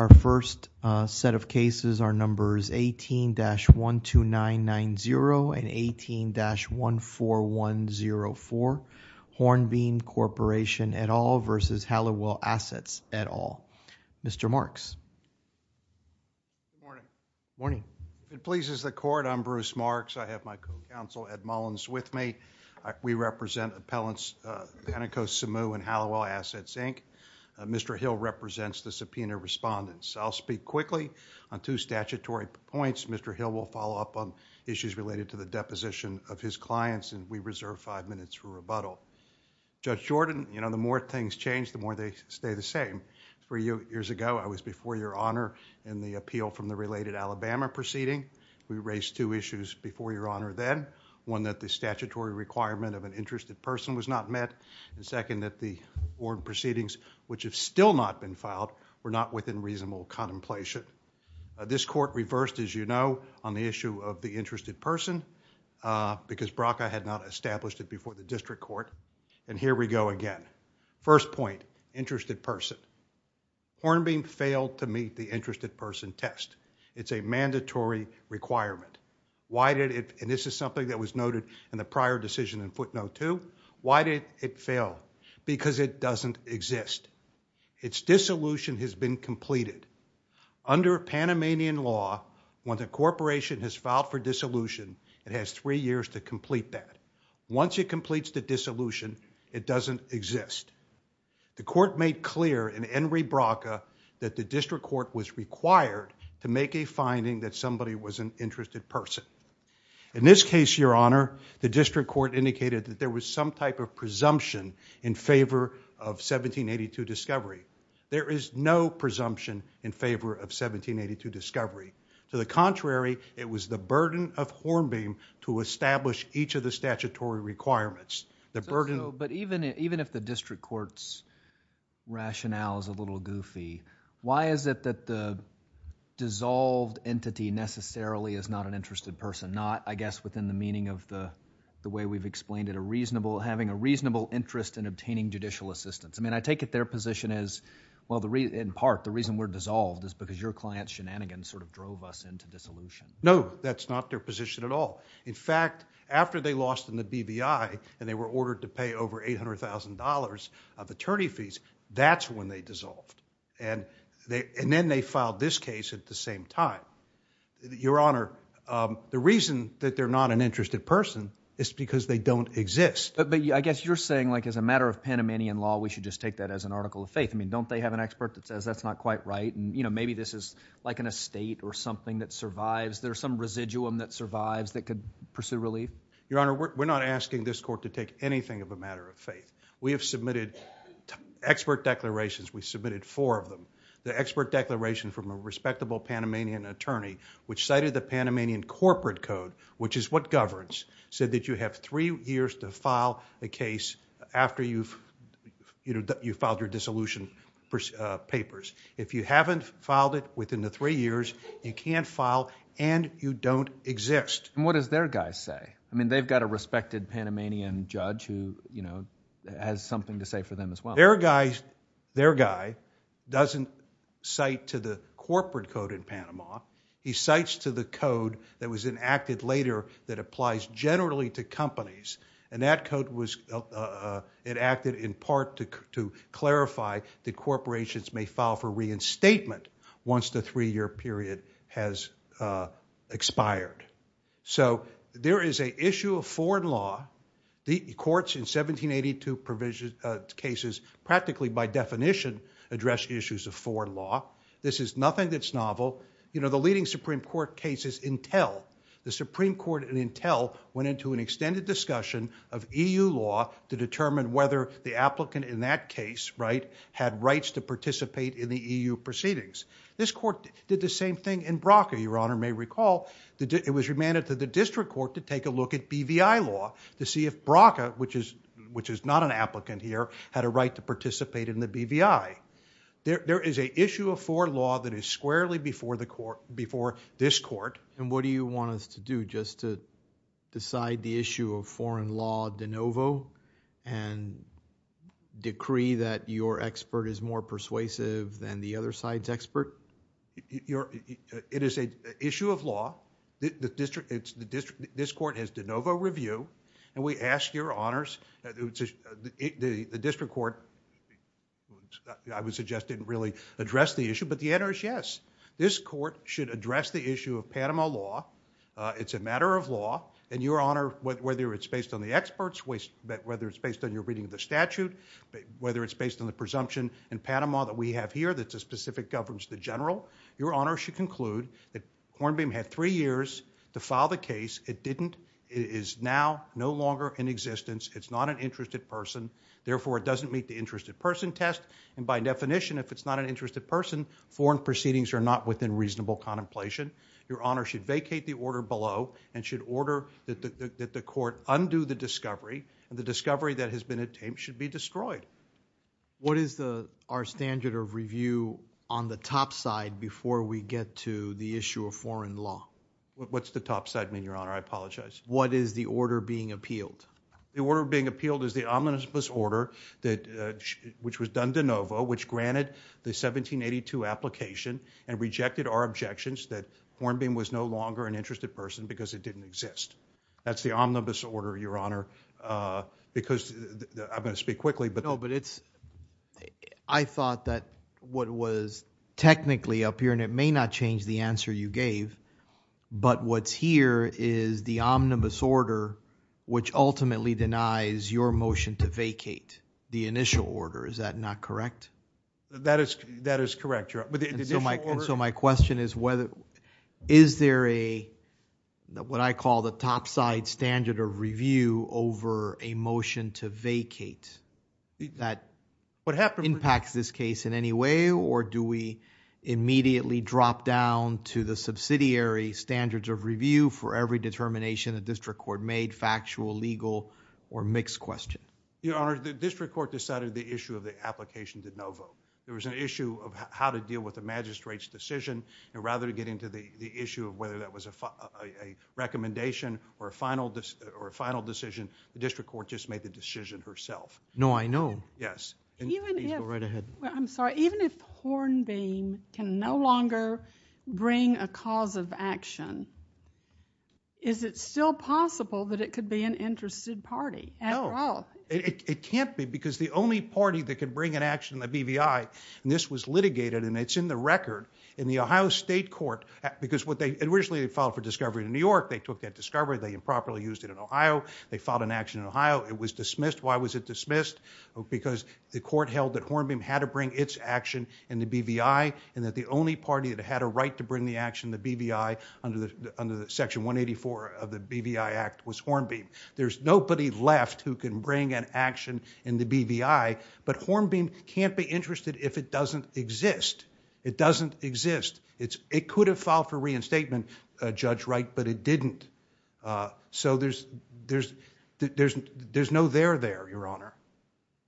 Our first set of cases are numbers 18-12990 and 18-14104, Hornbeam Corporation et al. v. Halliwell Assets et al. Mr. Marks. Good morning. Good morning. If it pleases the Court, I'm Bruce Marks. I have my co-counsel, Ed Mullins, with me. We represent Appellants Panico-Samu and Halliwell Assets, Inc. Mr. Hill represents the subpoena respondents. I'll speak quickly on two statutory points. Mr. Hill will follow up on issues related to the deposition of his clients and we reserve five minutes for rebuttal. Judge Jordan, the more things change, the more they stay the same. Three years ago, I was before Your Honor in the appeal from the related Alabama proceeding. We raised two issues before Your Honor then. One, that the statutory requirement of an interested person was not met. And second, that the board proceedings, which have still not been filed, were not within reasonable contemplation. This court reversed, as you know, on the issue of the interested person because BRCA had not established it before the district court. And here we go again. First point, interested person. Hornbeam failed to meet the interested person test. It's a mandatory requirement. Why did it, and this is something that was noted in the prior decision in footnote two, why did it fail? Because it doesn't exist. Its dissolution has been completed. Under Panamanian law, when the corporation has filed for dissolution, it has three years to complete that. Once it completes the dissolution, it doesn't exist. The court made clear in Henry BRCA that the district court was required to make a finding that somebody was an interested person. In this case, Your Honor, the district court indicated that there was some type of presumption in favor of 1782 discovery. There is no presumption in favor of 1782 discovery. To the contrary, it was the burden of Hornbeam to establish each of the statutory requirements. The burden... So, but even if the district court's rationale is a little goofy, why is it that the dissolved entity necessarily is not an interested person? Not, I guess, within the meaning of the way we've explained it, having a reasonable interest in obtaining judicial assistance. I mean, I take it their position is, in part, the reason we're dissolved is because your client's shenanigans sort of drove us into dissolution. No, that's not their position at all. In fact, after they lost in the BBI and they were ordered to pay over $800,000 of attorney fees, that's when they dissolved. Then they filed this case at the same time. Your Honor, the reason that they're not an interested person is because they don't exist. But, I guess, you're saying, like, as a matter of Panamanian law, we should just take that as an article of faith. I mean, don't they have an expert that says that's not quite right? You know, maybe this is like an estate or something that survives. There's some residuum that survives that could pursue relief. Your Honor, we're not asking this court to take anything of a matter of faith. We have submitted expert declarations. We submitted four of them. The expert declaration from a respectable Panamanian attorney, which cited the Panamanian corporate code, which is what governs, said that you have three years to file a case after you've filed your dissolution papers. If you haven't filed it within the three years, you can't file and you don't exist. What does their guy say? I mean, they've got a respected Panamanian judge who has something to say for them as well. Their guy doesn't cite to the corporate code in Panama. He cites to the code that was enacted later that applies generally to companies. And that code was enacted in part to clarify that corporations may file for reinstatement once the three-year period has expired. So there is a issue of foreign law. The courts in 1782 cases practically by definition address issues of foreign law. This is nothing that's novel. The leading Supreme Court cases entail, the Supreme Court entail went into an extended discussion of EU law to determine whether the applicant in that case had rights to participate in the EU proceedings. This court did the same thing. It was remanded to the district court to take a look at BVI law to see if BRCA, which is not an applicant here, had a right to participate in the BVI. There is an issue of foreign law that is squarely before this court. And what do you want us to do, just to decide the issue of foreign law de novo and decree that your expert is more persuasive than the other side's expert? It is an issue of law. This court has de novo review. And we ask your honors, the district court, I would suggest didn't really address the issue, but the answer is yes. This court should address the issue of Panama law. It's a matter of law. And your honor, whether it's based on the experts, whether it's based on your reading of the statute, whether it's based on the presumption in Panama that we have here that specific governs the general, your honor should conclude that Hornbeam had three years to file the case. It is now no longer in existence. It's not an interested person. Therefore, it doesn't meet the interested person test. And by definition, if it's not an interested person, foreign proceedings are not within reasonable contemplation. Your honor should vacate the order below and should order that the court undo the discovery. And the discovery that has been obtained should be destroyed. What is our standard of review on the top side before we get to the issue of foreign law? What's the top side mean, your honor? I apologize. What is the order being appealed? The order being appealed is the omnibus order, which was done de novo, which granted the 1782 application and rejected our objections that Hornbeam was no longer an interested person because it didn't exist. That's the omnibus order, your honor, because I'm going to speak quickly. I thought that what was technically up here, and it may not change the answer you gave, but what's here is the omnibus order, which ultimately denies your motion to vacate the initial order. Is that not correct? That is correct, your honor. So my question is, is there a, what I call the top side standard of review over a motion to vacate that impacts this case in any way, or do we immediately drop down to the subsidiary standards of review for every determination that district court made, factual, legal, or mixed question? Your honor, the district court decided the issue of the application de novo. There was an issue of how to deal with the magistrate's decision, and rather to get into the issue of whether that was a recommendation or a final decision, the decision herself. No, I know. Yes. Even if Hornbeam can no longer bring a cause of action, is it still possible that it could be an interested party? No. It can't be because the only party that could bring an action in the BVI, and this was litigated, and it's in the record in the Ohio State Court, because what they, originally they filed for discovery in New York. They took that discovery. They improperly used it in Ohio. They filed an action in Ohio. It was dismissed. Why was it dismissed? Because the court held that Hornbeam had to bring its action in the BVI, and that the only party that had a right to bring the action in the BVI under the Section 184 of the BVI Act was Hornbeam. There's nobody left who can bring an action in the BVI, but Hornbeam can't be interested if it doesn't exist. It doesn't exist. It could have filed for reinstatement, Judge Wright, but it didn't. So there's no there there, Your Honor,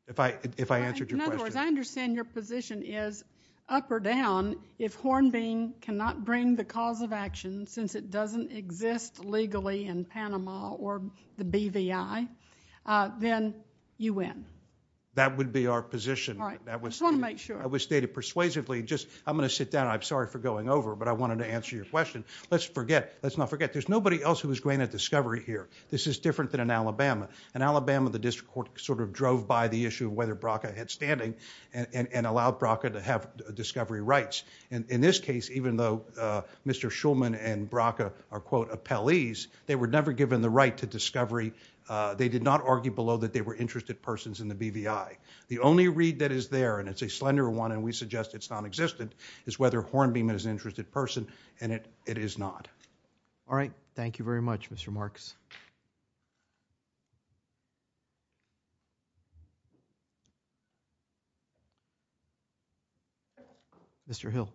if I answered your question. In other words, I understand your position is, up or down, if Hornbeam cannot bring the cause of action, since it doesn't exist legally in Panama or the BVI, then you win. That would be our position, but that was stated persuasively. I'm going to sit down. I'm sorry for going over, but I wanted to answer your question. Let's not forget, there's nobody else who was granted discovery here. This is different than in Alabama. In Alabama, the District Court sort of drove by the issue of whether Bracca had standing and allowed Bracca to have discovery rights. In this case, even though Mr. Shulman and Bracca are, quote, appellees, they were never given the right to discovery. They did not argue below that they were interested persons in the BVI. The only read that is there, and it's a slender one and we suggest it's nonexistent, is whether Hornbeam is an interested person, and it is not. All right. Thank you very much, Mr. Marks. Mr. Hill.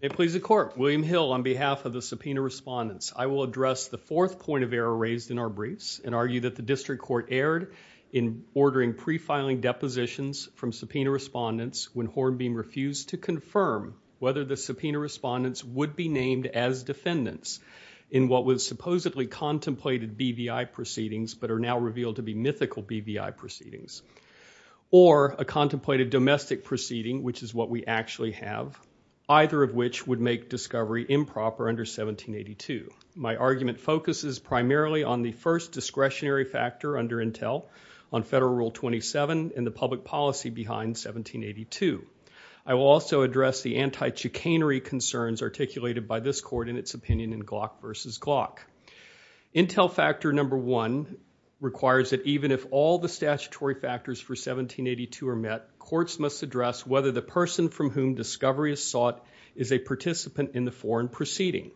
It pleases the Court. William Hill on behalf of the subpoena respondents. I will address the fourth point of error raised in our briefs and argue that the District Court erred in ordering pre-filing depositions from subpoena respondents when Hornbeam refused to confirm whether the subpoena respondents would be defendants in what was supposedly contemplated BVI proceedings but are now revealed to be mythical BVI proceedings, or a contemplated domestic proceeding, which is what we actually have, either of which would make discovery improper under 1782. My argument focuses primarily on the first discretionary factor under Intel on Federal Rule 27 and the public policy behind 1782. I will also address the anti-chicanery concerns articulated by this Court in its opinion in Glock v. Glock. Intel Factor No. 1 requires that even if all the statutory factors for 1782 are met, courts must address whether the person from whom discovery is sought is a participant in the foreign proceeding.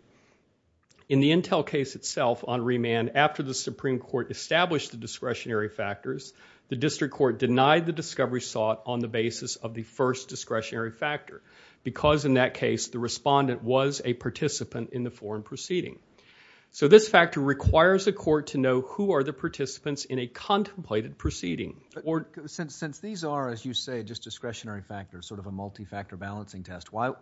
In the Intel case itself on remand, after the Supreme Court established the discretionary factors, the District Court denied the discovery sought on the basis of the first discretionary factor because, in that case, the respondent was a participant in the foreign proceeding. So this factor requires a court to know who are the participants in a contemplated proceeding. Since these are, as you say, just discretionary factors, sort of a multi-factor balancing test, why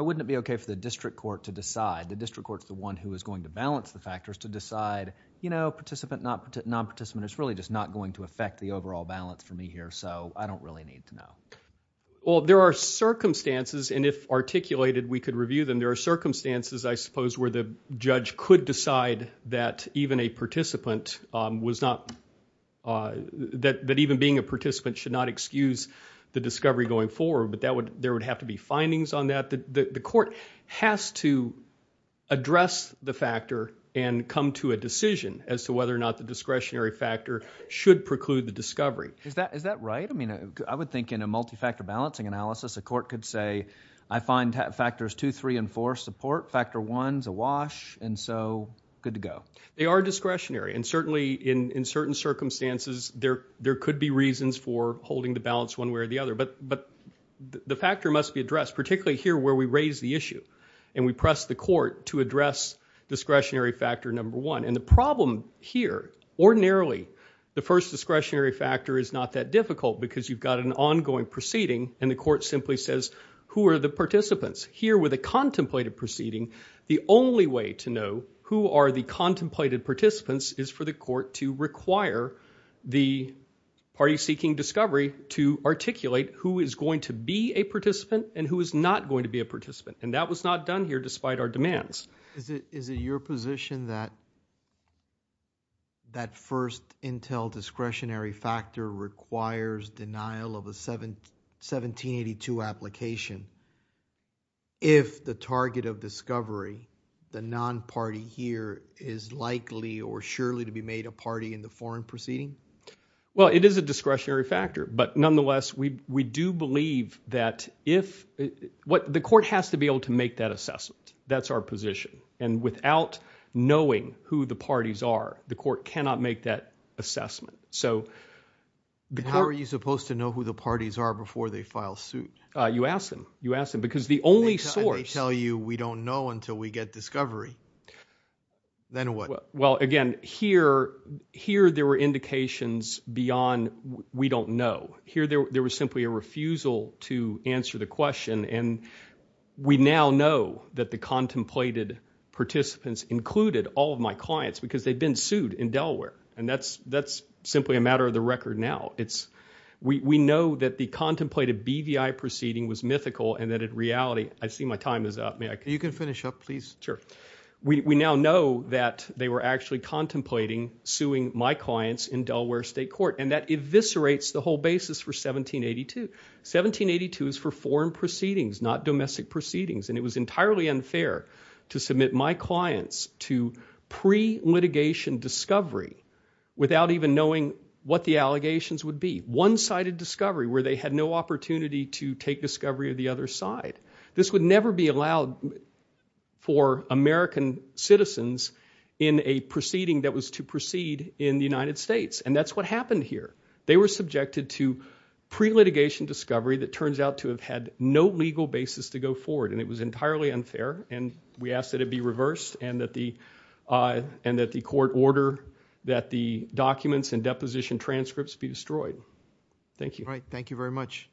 wouldn't it be okay for the District Court to decide? The District Court's the one who is going to balance the factors to decide, you know, participant, non-participant, it's really just not going to affect the overall balance for me here, so I don't really need to know. Well, there are circumstances, and if articulated we could review them, there are circumstances, I suppose, where the judge could decide that even a participant was not, that even being a participant should not excuse the discovery going forward, but there would have to be findings on that. The court has to address the factor and come to a decision as to whether or not the discretionary factor should preclude the discovery. Is that right? I mean, I would think in a multi-factor balancing analysis a court could say I find factors 2, 3, and 4 support, factor 1's a wash, and so good to go. They are discretionary, and certainly in certain circumstances there could be reasons for holding the balance one way or the other, but the factor must be addressed, particularly here where we raise the issue and we press the court to address discretionary factor number 1, and the problem here, ordinarily, the first discretionary factor is not that difficult because you've got an ongoing proceeding and the court simply says who are the participants. Here with a contemplated proceeding, the only way to know who are the contemplated participants is for the court to require the party seeking discovery to articulate who is going to be a participant and who is not going to be a participant, and that was not done here despite our demands. Is it your position that that first intel discretionary factor requires denial of a 1782 application if the target of discovery, the non-party here, is likely or surely to be made a party in the foreign proceeding? Well, it is a discretionary factor, but nonetheless, we do believe that if, the court has to be in that position, and without knowing who the parties are, the court cannot make that assessment. How are you supposed to know who the parties are before they file suit? You ask them. You ask them. Because the only source... And they tell you, we don't know until we get discovery. Then what? Well, again, here there were indications beyond we don't know. There was simply a refusal to answer the question, and we now know that the contemplated participants included all of my clients because they've been sued in Delaware, and that's simply a matter of the record now. We know that the contemplated BVI proceeding was mythical, and that in reality, I see my time is up. May I... You can finish up, please. Sure. We now know that they were actually contemplating suing my clients in Delaware State Court, and that eviscerates the whole basis for 1782. 1782 is for foreign proceedings, not domestic proceedings, and it was entirely unfair to submit my clients to pre-litigation discovery without even knowing what the allegations would be. One-sided discovery, where they had no opportunity to take discovery of the other side. This would never be allowed for American citizens in a proceeding that was to proceed in the United States. And that's what happened here. They were subjected to pre-litigation discovery that turns out to have had no legal basis to go forward, and it was entirely unfair. And we ask that it be reversed, and that the court order that the documents and deposition transcripts be destroyed. Thank you. All right. Thank you very much.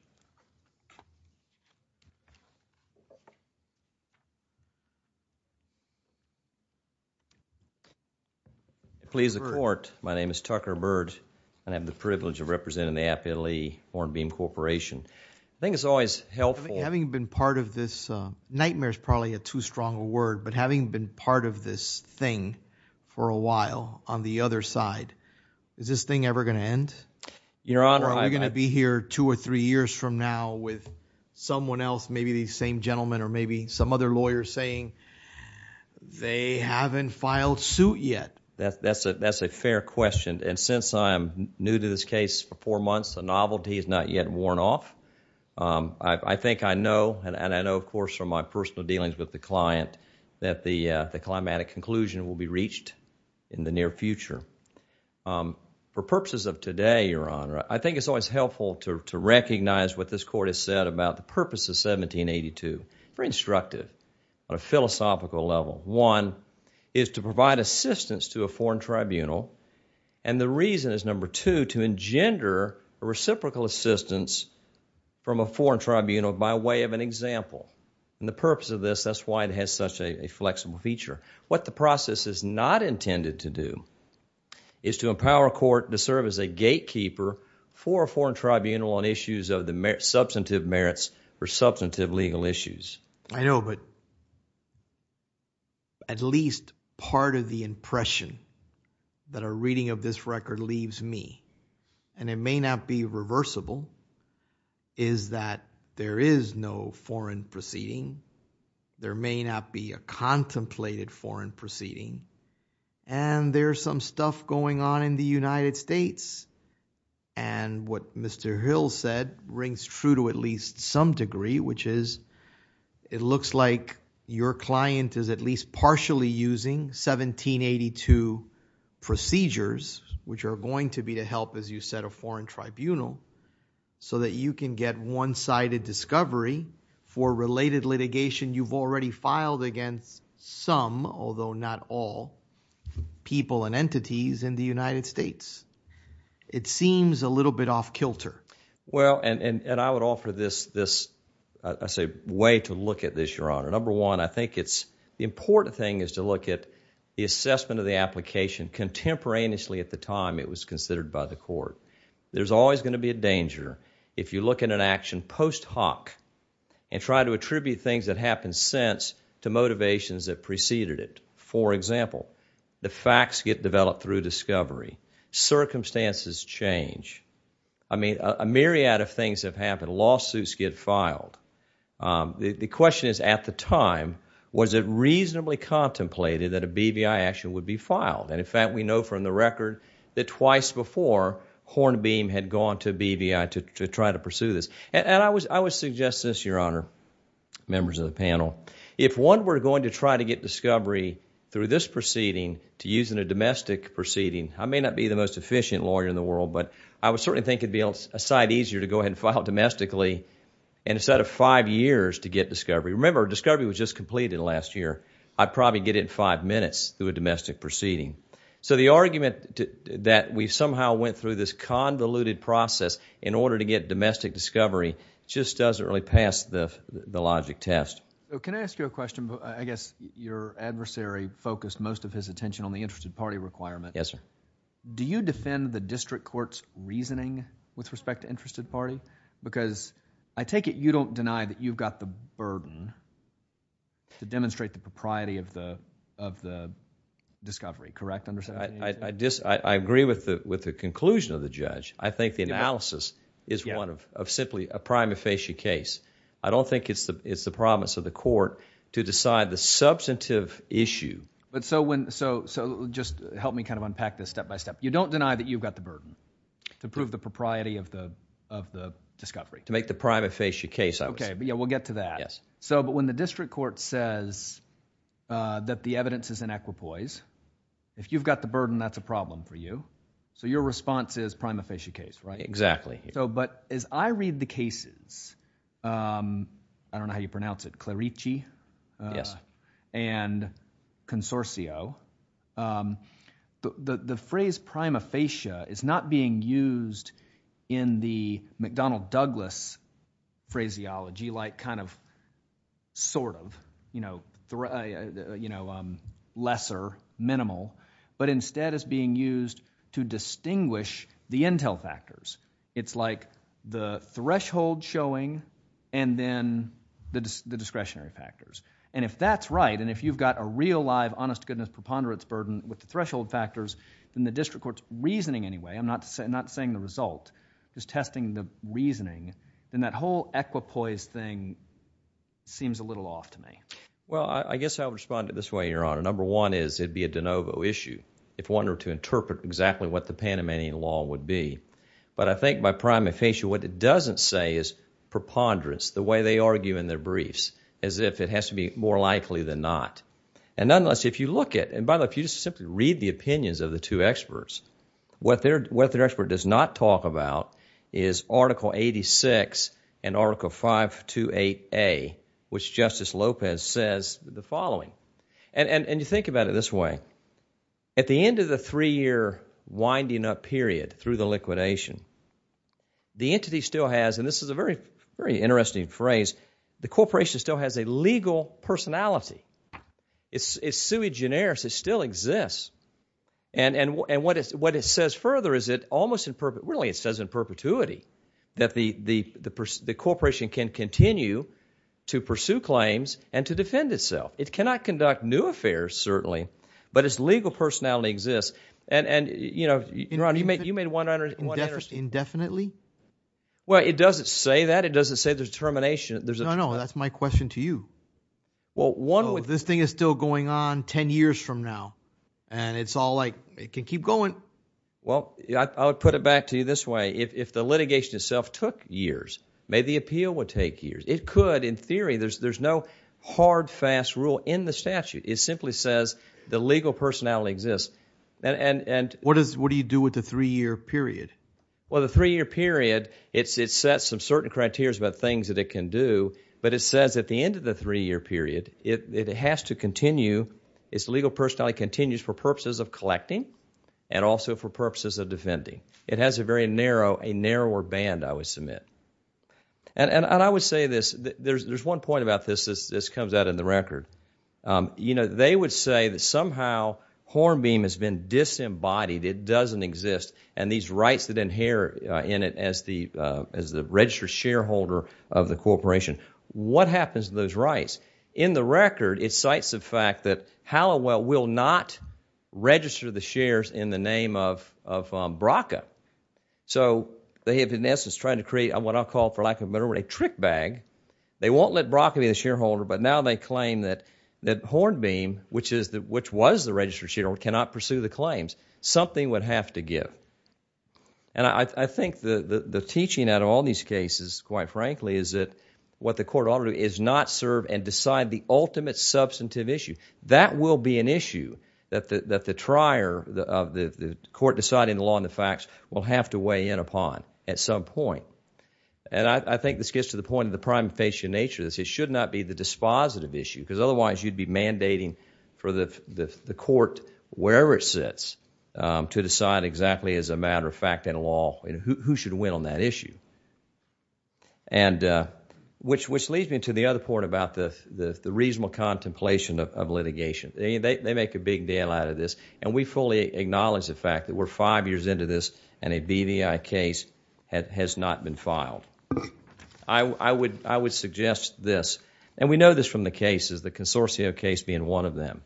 Please, the court. My name is Tucker Byrd, and I have the privilege of representing the Appellee Foreign Beam Corporation. I think it's always helpful. Having been part of this, nightmare is probably a too strong a word, but having been part of this thing for a while, on the other side, is this thing ever going to end? Your Honor, I... Or are we going to be here two or three years from now with someone else, maybe the same gentleman or maybe some other lawyer saying, they haven't filed suit yet? That's a fair question. And since I'm new to this case for four months, the novelty is not yet worn off. I think I know, and I know, of course, from my personal dealings with the client, that the climatic conclusion will be reached in the near future. For purposes of today, Your Honor, I think it's always helpful to recognize what this court has said about the purpose of 1782, very instructive on a philosophical level. One, is to provide assistance to a foreign tribunal, and the reason is, number two, to engender a reciprocal assistance from a foreign tribunal by way of an example. And the purpose of this, that's why it has such a flexible feature. What the process is not intended to do is to empower a court to serve as a gatekeeper for a foreign tribunal on issues of the substantive merits for substantive legal issues. I know, but at least part of the impression that a reading of this record leaves me, and it may not be reversible, is that there is no foreign proceeding. There may not be a contemplated foreign proceeding. And there's some stuff going on in the United States. And what Mr. Hill said rings true to at least some degree, which is it looks like your client is at least partially using 1782 procedures, which are going to be to help, as you said, a foreign tribunal. So that you can get one-sided discovery for related litigation you've already filed against some, although not all, people and entities in the United States. It seems a little bit off kilter. Well, and I would offer this, I say, way to look at this, your honor. Number one, I think it's, the important thing is to look at the assessment of the application contemporaneously at the time it was considered by the court. There's always going to be a danger if you look at an action post hoc and try to attribute things that happened since to motivations that preceded it. For example, the facts get developed through discovery. Circumstances change. I mean, a myriad of things have happened. Lawsuits get filed. The question is, at the time, was it reasonably contemplated that a BVI action would be filed? And in fact, we know from the record that twice before, Hornbeam had gone to BVI to try to pursue this. And I would suggest this, your honor, members of the panel. If one were going to try to get discovery through this proceeding, to use in a domestic proceeding, I may not be the most efficient lawyer in the world, but I would certainly think it'd be a side easier to go ahead and file domestically instead of five years to get discovery. Remember, discovery was just completed last year. I'd probably get it in five minutes through a domestic proceeding. So the argument that we somehow went through this convoluted process in order to get domestic discovery just doesn't really pass the logic test. Can I ask you a question? I guess your adversary focused most of his attention on the interested party requirement. Yes, sir. Do you defend the district court's reasoning with respect to interested party? Because I take it you don't deny that you've got the burden to demonstrate the propriety of the discovery, correct? I agree with the conclusion of the judge. I think the analysis is one of simply a prime facie case. I don't think it's the promise of the court to decide the substantive issue. But so when, so just help me kind of unpack this step by step. You don't deny that you've got the burden to prove the propriety of the discovery. To make the prime facie case, I would say. Okay, but yeah, we'll get to that. Yes. So, but when the district court says that the evidence is in equipoise, if you've got the burden, that's a problem for you. So your response is prime facie case, right? Exactly. So, but as I read the cases, I don't know how you pronounce it, Clarici? Yes. And Consorcio, the phrase prime facie is not being used in the McDonnell-Douglas phraseology like kind of sort of lesser, minimal. But instead, it's being used to distinguish the intel factors. It's like the threshold showing and then the discretionary factors. And if that's right, and if you've got a real live honest goodness preponderance burden with the threshold factors, then the district court's reasoning anyway. I'm not saying the result. Just testing the reasoning. Then that whole equipoise thing seems a little off to me. Well, I guess I'll respond to this way, Your Honor. Number one is it'd be a de novo issue. If one were to interpret exactly what the Panamanian law would be. But I think by prime facie, what it doesn't say is preponderance, the way they argue in their briefs, as if it has to be more likely than not. And nonetheless, if you look at, and by the way, if you just simply read the opinions of the two experts, what their expert does not talk about is Article 86 and Article 528A, which Justice Lopez says the following. And you think about it this way. At the end of the three year winding up period through the liquidation, the entity still has, and this is a very interesting phrase, the corporation still has a legal personality. It's sui generis. It still exists. And what it says further is it almost, really it says in perpetuity, that the corporation can continue to pursue claims and to defend itself. It cannot conduct new affairs, certainly. But its legal personality exists. And, you know, Ron, you made 100. Indefinitely? Well, it doesn't say that. It doesn't say there's termination. No, no, that's my question to you. Well, one would. This thing is still going on 10 years from now. And it's all like, it can keep going. Well, I would put it back to you this way. If the litigation itself took years, maybe the appeal would take years. It could, in theory. There's no hard, fast rule in the statute. It simply says the legal personality exists. And what do you do with the three-year period? Well, the three-year period, it sets some certain criterias about things that it can do. But it says at the end of the three-year period, it has to continue, its legal personality continues for purposes of collecting and also for purposes of defending. It has a very narrow, a narrower band, I would submit. And I would say this. There's one point about this that comes out in the record. You know, they would say that somehow Hornbeam has been disembodied. It doesn't exist. And these rights that inherit in it as the registered shareholder of the corporation, what happens to those rights? In the record, it cites the fact that Hallowell will not register the shares in the name of BRCA. So they have, in essence, tried to create what I'll call, for lack of a better word, a trick bag. They won't let BRCA be the shareholder. But now they claim that Hornbeam, which was the registered shareholder, cannot pursue the claims. Something would have to give. And I think the teaching out of all these cases, quite frankly, is that what the court ought to do is not serve and decide the ultimate substantive issue. That will be an issue that the trier of the court deciding the law and the facts will have to weigh in upon at some point. And I think this gets to the point of the prime facial nature of this. It should not be the dispositive issue. Because otherwise, you'd be mandating for the court, wherever it sits, to decide exactly as a matter of fact and law who should win on that issue, which leads me to the other point about the reasonable contemplation of litigation. They make a big deal out of this. And we fully acknowledge the fact that we're five years into this and a BVI case has not been filed. I would suggest this. And we know this from the cases, the Consortio case being one of them.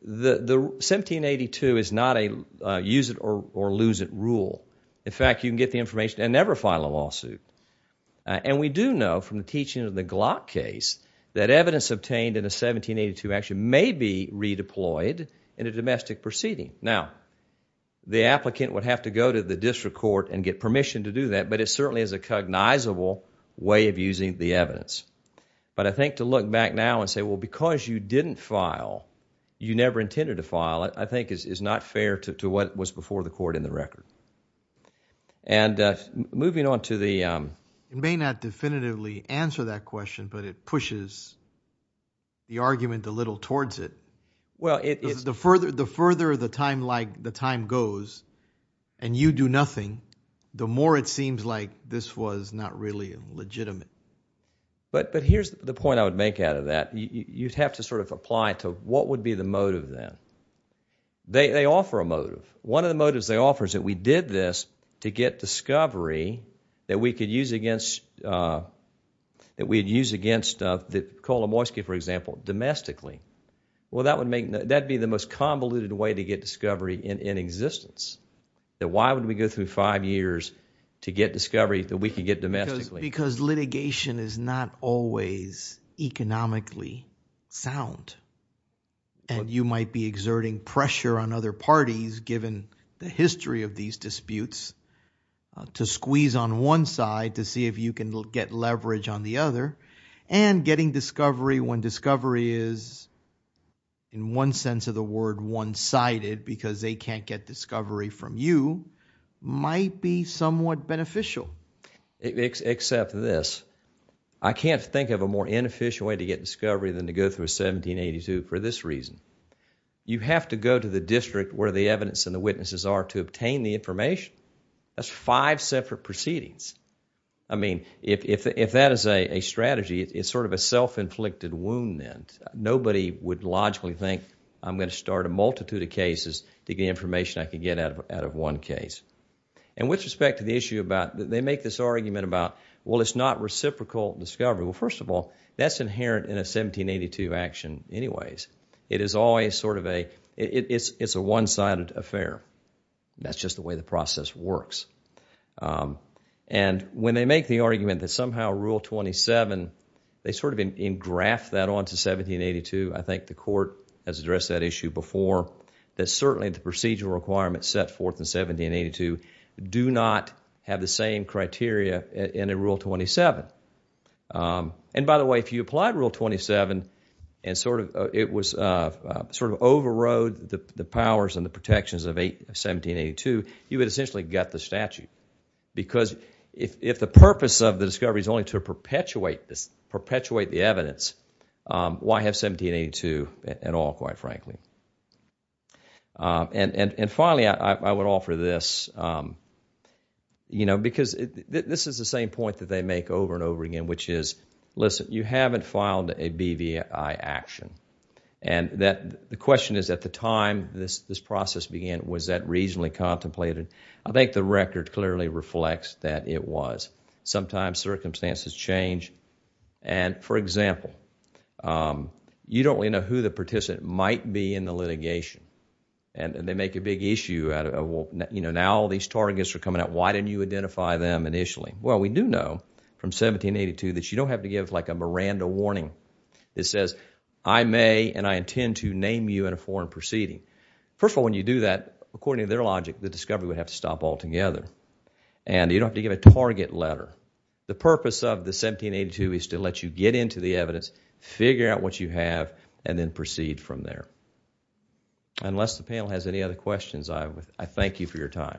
The 1782 is not a use it or lose it rule. In fact, you can get the information and never file a lawsuit. And we do know from the teaching of the Glock case that evidence obtained in a 1782 action may be redeployed in a domestic proceeding. Now, the applicant would have to go to the district court and get permission to do that. But it certainly is a cognizable way of using the evidence. But I think to look back now and say, well, because you didn't file, you never intended to file it, I think is not fair to what was before the court in the record. And moving on to the, um. It may not definitively answer that question, but it pushes the argument a little towards it. Well, it is. The further the time goes and you do nothing, the more it seems like this was not really legitimate. But here's the point I would make out of that. You'd have to sort of apply to what would be the motive then. They offer a motive. One of the motives they offer is that we did this to get discovery that we could use against, that we'd use against the Kolomoisky, for example, domestically. Well, that would be the most convoluted way to get discovery in existence. Why would we go through five years to get discovery that we could get domestically? Because litigation is not always economically sound. And you might be exerting pressure on other parties, given the history of these disputes, to squeeze on one side to see if you can get leverage on the other, because they can't get discovery from you, might be somewhat beneficial. Except this. I can't think of a more inefficient way to get discovery than to go through 1782 for this reason. You have to go to the district where the evidence and the witnesses are to obtain the information. That's five separate proceedings. I mean, if that is a strategy, it's sort of a self-inflicted wound then. Nobody would logically think, I'm going to start a multitude of cases to get information I can get out of one case. And with respect to the issue about, they make this argument about, well, it's not reciprocal discovery. Well, first of all, that's inherent in a 1782 action anyways. It is always sort of a, it's a one-sided affair. That's just the way the process works. And when they make the argument that somehow Rule 27, they sort of engraft that onto 1782. I think the court has addressed that issue before. That certainly the procedural requirements set forth in 1782 do not have the same criteria in a Rule 27. And by the way, if you applied Rule 27, and sort of overrode the powers and the protections of 1782, you would essentially gut the statute. Because if the purpose of the discovery is only to perpetuate the evidence, why have 1782 at all, quite frankly? And finally, I would offer this. Because this is the same point that they make over and over again, which is, listen, you haven't filed a BVI action. And the question is, at the time this process began, was that reasonably contemplated? I think the record clearly reflects that it was. Sometimes circumstances change. And for example, you don't really know who the participant might be in the litigation. And they make a big issue out of, well, now all these targets are coming out. Why didn't you identify them initially? Well, we do know from 1782 that you don't have to give like a Miranda warning that says, I may and I intend to name you in a foreign proceeding. First of all, when you do that, according to their logic, the discovery would have to stop altogether. And you don't have to give a target letter. The purpose of the 1782 is to let you get into the evidence, figure out what you have, and then proceed from there. Unless the panel has any other questions, I thank you for your time.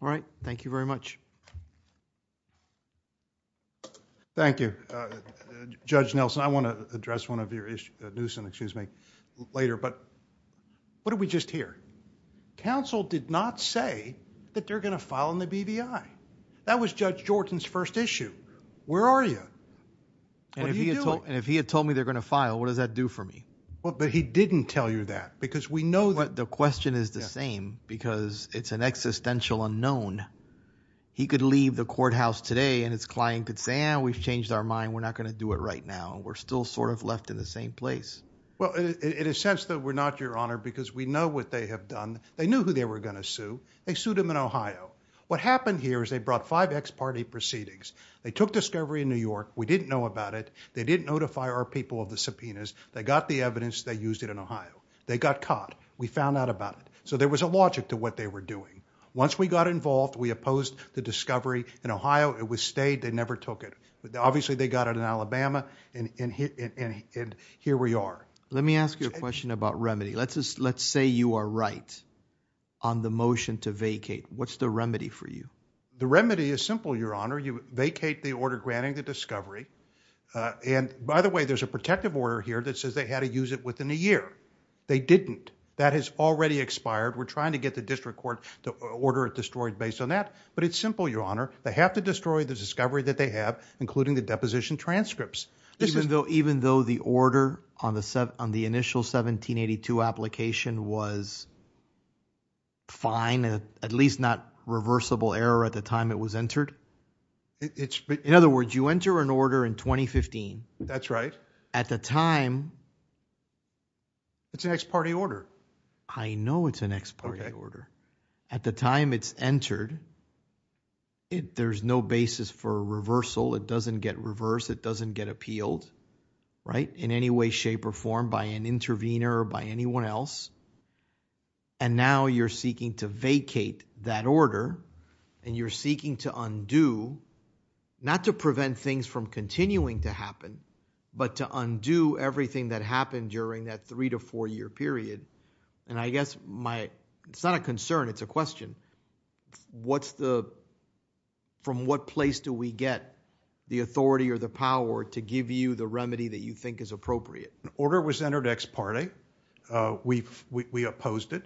All right. Thank you very much. Thank you. Judge Nelson, I want to address one of your issues later. But what did we just hear? Counsel did not say that they're going to file in the BBI. That was Judge Jordan's first issue. Where are you? And if he had told me they're going to file, what does that do for me? But he didn't tell you that. Because we know that the question is the same. Because it's an existential unknown. He could leave the courthouse today, and his client could say, we've changed our mind. We're not going to do it right now. Well, in a sense that we're not, Your Honor, because we know what they have done. They knew who they were going to sue. They sued them in Ohio. What happened here is they brought five ex-party proceedings. They took discovery in New York. We didn't know about it. They didn't notify our people of the subpoenas. They got the evidence. They used it in Ohio. They got caught. We found out about it. So there was a logic to what they were doing. Once we got involved, we opposed the discovery in Ohio. It was stayed. They never took it. Obviously, they got it in Alabama. And here we are. Let me ask you a question about remedy. Let's say you are right on the motion to vacate. What's the remedy for you? The remedy is simple, Your Honor. You vacate the order granting the discovery. And by the way, there's a protective order here that says they had to use it within a year. They didn't. That has already expired. We're trying to get the district court to order it destroyed based on that. But it's simple, Your Honor. They have to destroy the discovery that they have, including the deposition transcripts. Even though the order on the initial 1782 application was fine, at least not reversible error at the time it was entered? In other words, you enter an order in 2015. That's right. At the time. It's an ex parte order. I know it's an ex parte order. At the time it's entered, there's no basis for reversal. It doesn't get reversed. It doesn't get appealed in any way, shape, or form by an intervener or by anyone else. And now you're seeking to vacate that order. And you're seeking to undo, not to prevent things from continuing to happen, but to undo everything that happened during that three to four year period. It's a question. What's the, from what place do we get the authority or the power to give you the remedy that you think is appropriate? An order was entered ex parte. We opposed it.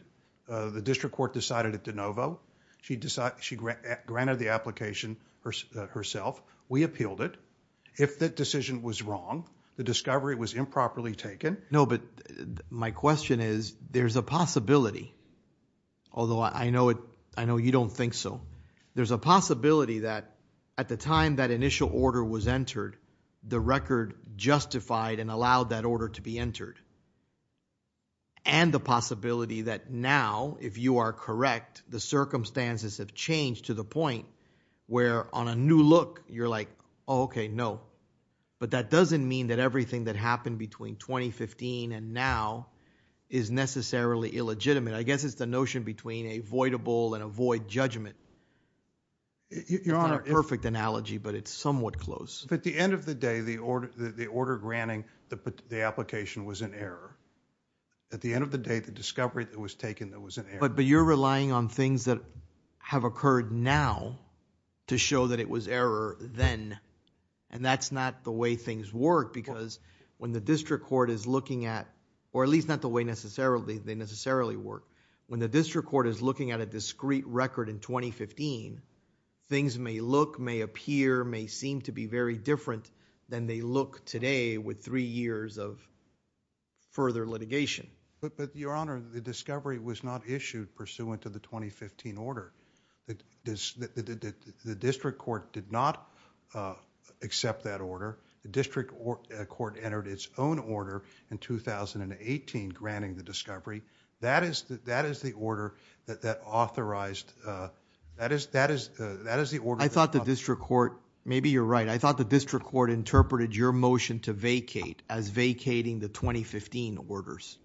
The district court decided it de novo. She decided, she granted the application herself. We appealed it. If that decision was wrong, the discovery was improperly taken. No, but my question is, there's a possibility. Although I know you don't think so. There's a possibility that at the time that initial order was entered, the record justified and allowed that order to be entered. And the possibility that now, if you are correct, the circumstances have changed to the point where on a new look, you're like, oh, OK, no. But that doesn't mean that everything that happened between 2015 and now is necessarily illegitimate. I guess it's the notion between a voidable and a void judgment. Your Honor. It's not a perfect analogy, but it's somewhat close. But at the end of the day, the order granting the application was an error. At the end of the day, the discovery that was taken that was an error. But you're relying on things that have occurred now to show that it was error then. And that's not the way things work, because when the district court is looking at, or at least not the way they necessarily work, when the district court is looking at a discrete record in 2015, things may look, may appear, may seem to be very different than they look today with three years of further litigation. But Your Honor, the discovery was not issued pursuant to the 2015 order. The district court did not accept that order. The district court entered its own order in 2018 granting the discovery. That is the order that authorized, that is the order. I thought the district court, maybe you're right. I thought the district court interpreted your motion to vacate as vacating the 2015 orders.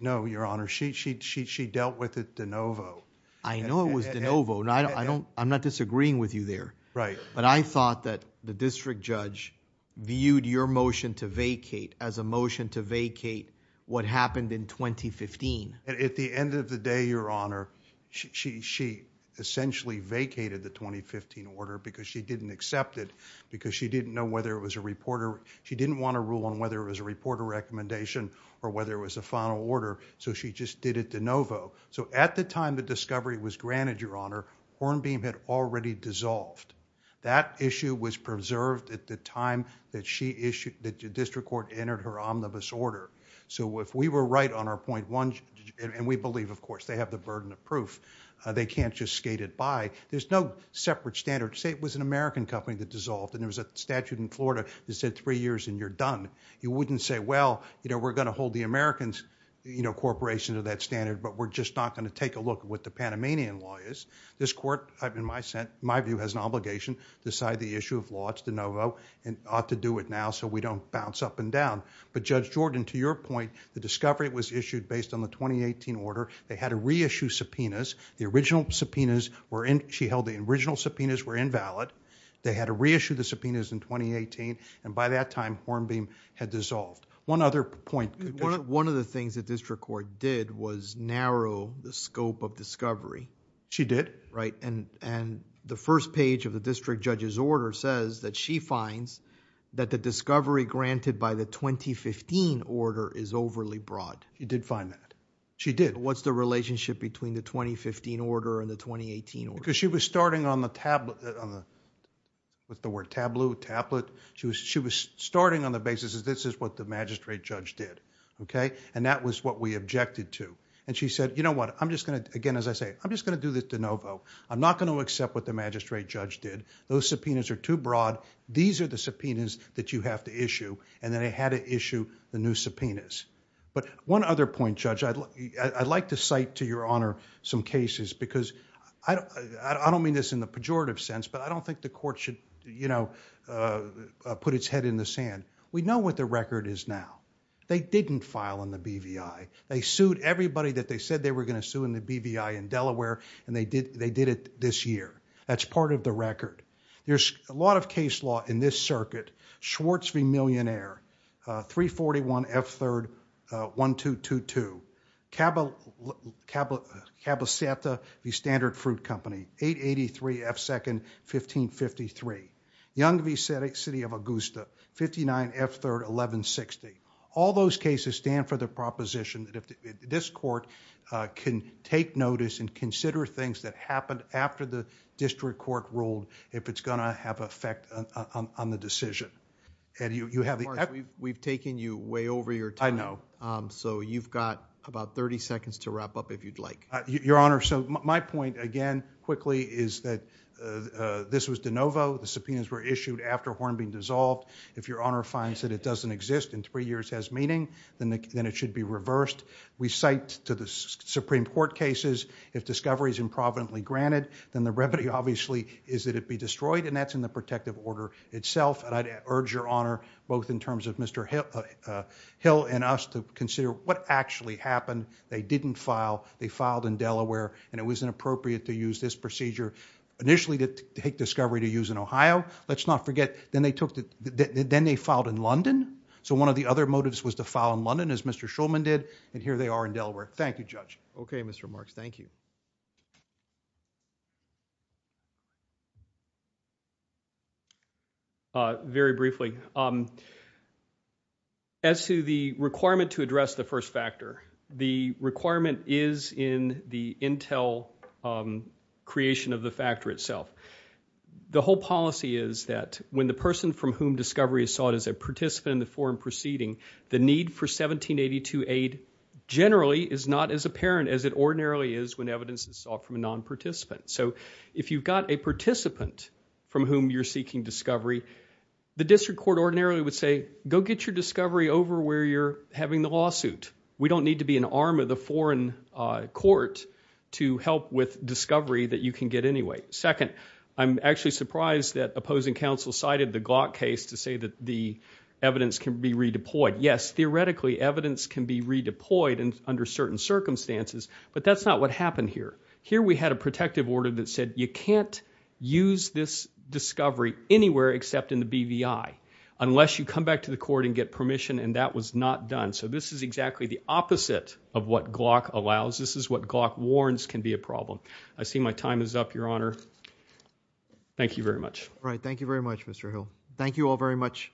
No, Your Honor. She dealt with it de novo. I know it was de novo. I'm not disagreeing with you there. But I thought that the district judge viewed your motion to vacate as a motion to vacate what happened in 2015. At the end of the day, Your Honor, she essentially vacated the 2015 order because she didn't accept it, because she didn't know whether it was a reporter. She didn't want to rule on whether it was a reporter recommendation or whether it was a final order, so she just did it de novo. So at the time the discovery was granted, Your Honor, Hornbeam had already dissolved. That issue was preserved at the time that the district court entered her omnibus order. So if we were right on our point one, and we believe, of course, they have the burden of proof. They can't just skate it by. There's no separate standard. Say it was an American company that dissolved and there was a statute in Florida that said three years and you're done. You wouldn't say, well, we're going to hold the Americans corporation to that standard, but we're just not going to take a look at what the Panamanian law is. This court, in my view, has an obligation to decide the issue of laws de novo and ought to do it now so we don't bounce up and down. But Judge Jordan, to your point, the discovery was issued based on the 2018 order. They had to reissue subpoenas. The original subpoenas she held, the original subpoenas were invalid. They had to reissue the subpoenas in 2018, and by that time Hornbeam had dissolved. One other point. One of the things that district court did was narrow the scope of discovery. She did. Right. The first page of the district judge's order says that she finds that the discovery granted by the 2015 order is overly broad. She did find that. She did. What's the relationship between the 2015 order and the 2018 order? She was starting on the tablet, with the word tableau, tablet. She was starting on the basis that this is what the magistrate judge did. That was what we objected to. She said, you know what? I'm just going to... I'm just going to do this de novo. I'm not going to accept what the magistrate judge did. Those subpoenas are too broad. These are the subpoenas that you have to issue. And then they had to issue the new subpoenas. But one other point, Judge, I'd like to cite to your honor some cases, because I don't mean this in the pejorative sense, but I don't think the court should, you know, put its head in the sand. We know what the record is now. They didn't file in the BVI. They sued everybody that they said they were going to sue in the BVI in Delaware, and they did it this year. That's part of the record. There's a lot of case law in this circuit. Schwartz v. Millionaire, 341 F. 3rd, 1222. Cabo Santa v. Standard Fruit Company, 883 F. 2nd, 1553. Young v. City of Augusta, 59 F. 3rd, 1160. All those cases stand for the proposition that this court can take notice and consider things that happened after the district court ruled if it's going to have an effect on the decision. And you have the equity. We've taken you way over your time. I know. So you've got about 30 seconds to wrap up if you'd like. Your honor, so my point, again, quickly, is that this was de novo. The subpoenas were issued after Hornbeam dissolved. If your honor finds that it doesn't exist and three years has meaning, then it should be reversed. We cite to the Supreme Court cases, if discovery is improvidently granted, then the remedy, obviously, is that it be destroyed. And that's in the protective order itself. And I'd urge your honor, both in terms of Mr. Hill and us, to consider what actually happened. They didn't file. They filed in Delaware. And it was inappropriate to use this procedure initially to take discovery to use in Ohio. Let's not forget. Then they filed in London. So one of the other motives was to file in London, as Mr. Shulman did. And here they are in Delaware. Thank you, Judge. OK, Mr. Marks. Thank you. Very briefly, as to the requirement to address the first factor, the requirement is in the Intel creation of the factor itself. The whole policy is that when the person from whom discovery is sought is a participant in the foreign proceeding, the need for 1782 aid generally is not as apparent as it ordinarily is when evidence is sought from a non-participant. So if you've got a participant from whom you're seeking discovery, the district court ordinarily would say, go get your discovery over where you're having the lawsuit. We don't need to be an arm of the foreign court to help with discovery that you can get anyway. Second, I'm actually surprised that opposing counsel cited the Glock case to say that the evidence can be redeployed. Yes, theoretically, evidence can be redeployed under certain circumstances. But that's not what happened here. Here we had a protective order that said you can't use this discovery anywhere except in the BVI unless you come back to the court and get permission. And that was not done. So this is exactly the opposite of what Glock allows. This is what Glock warns can be a problem. I see my time is up, Your Honor. Thank you very much. All right, thank you very much, Mr. Hill. Thank you all very much.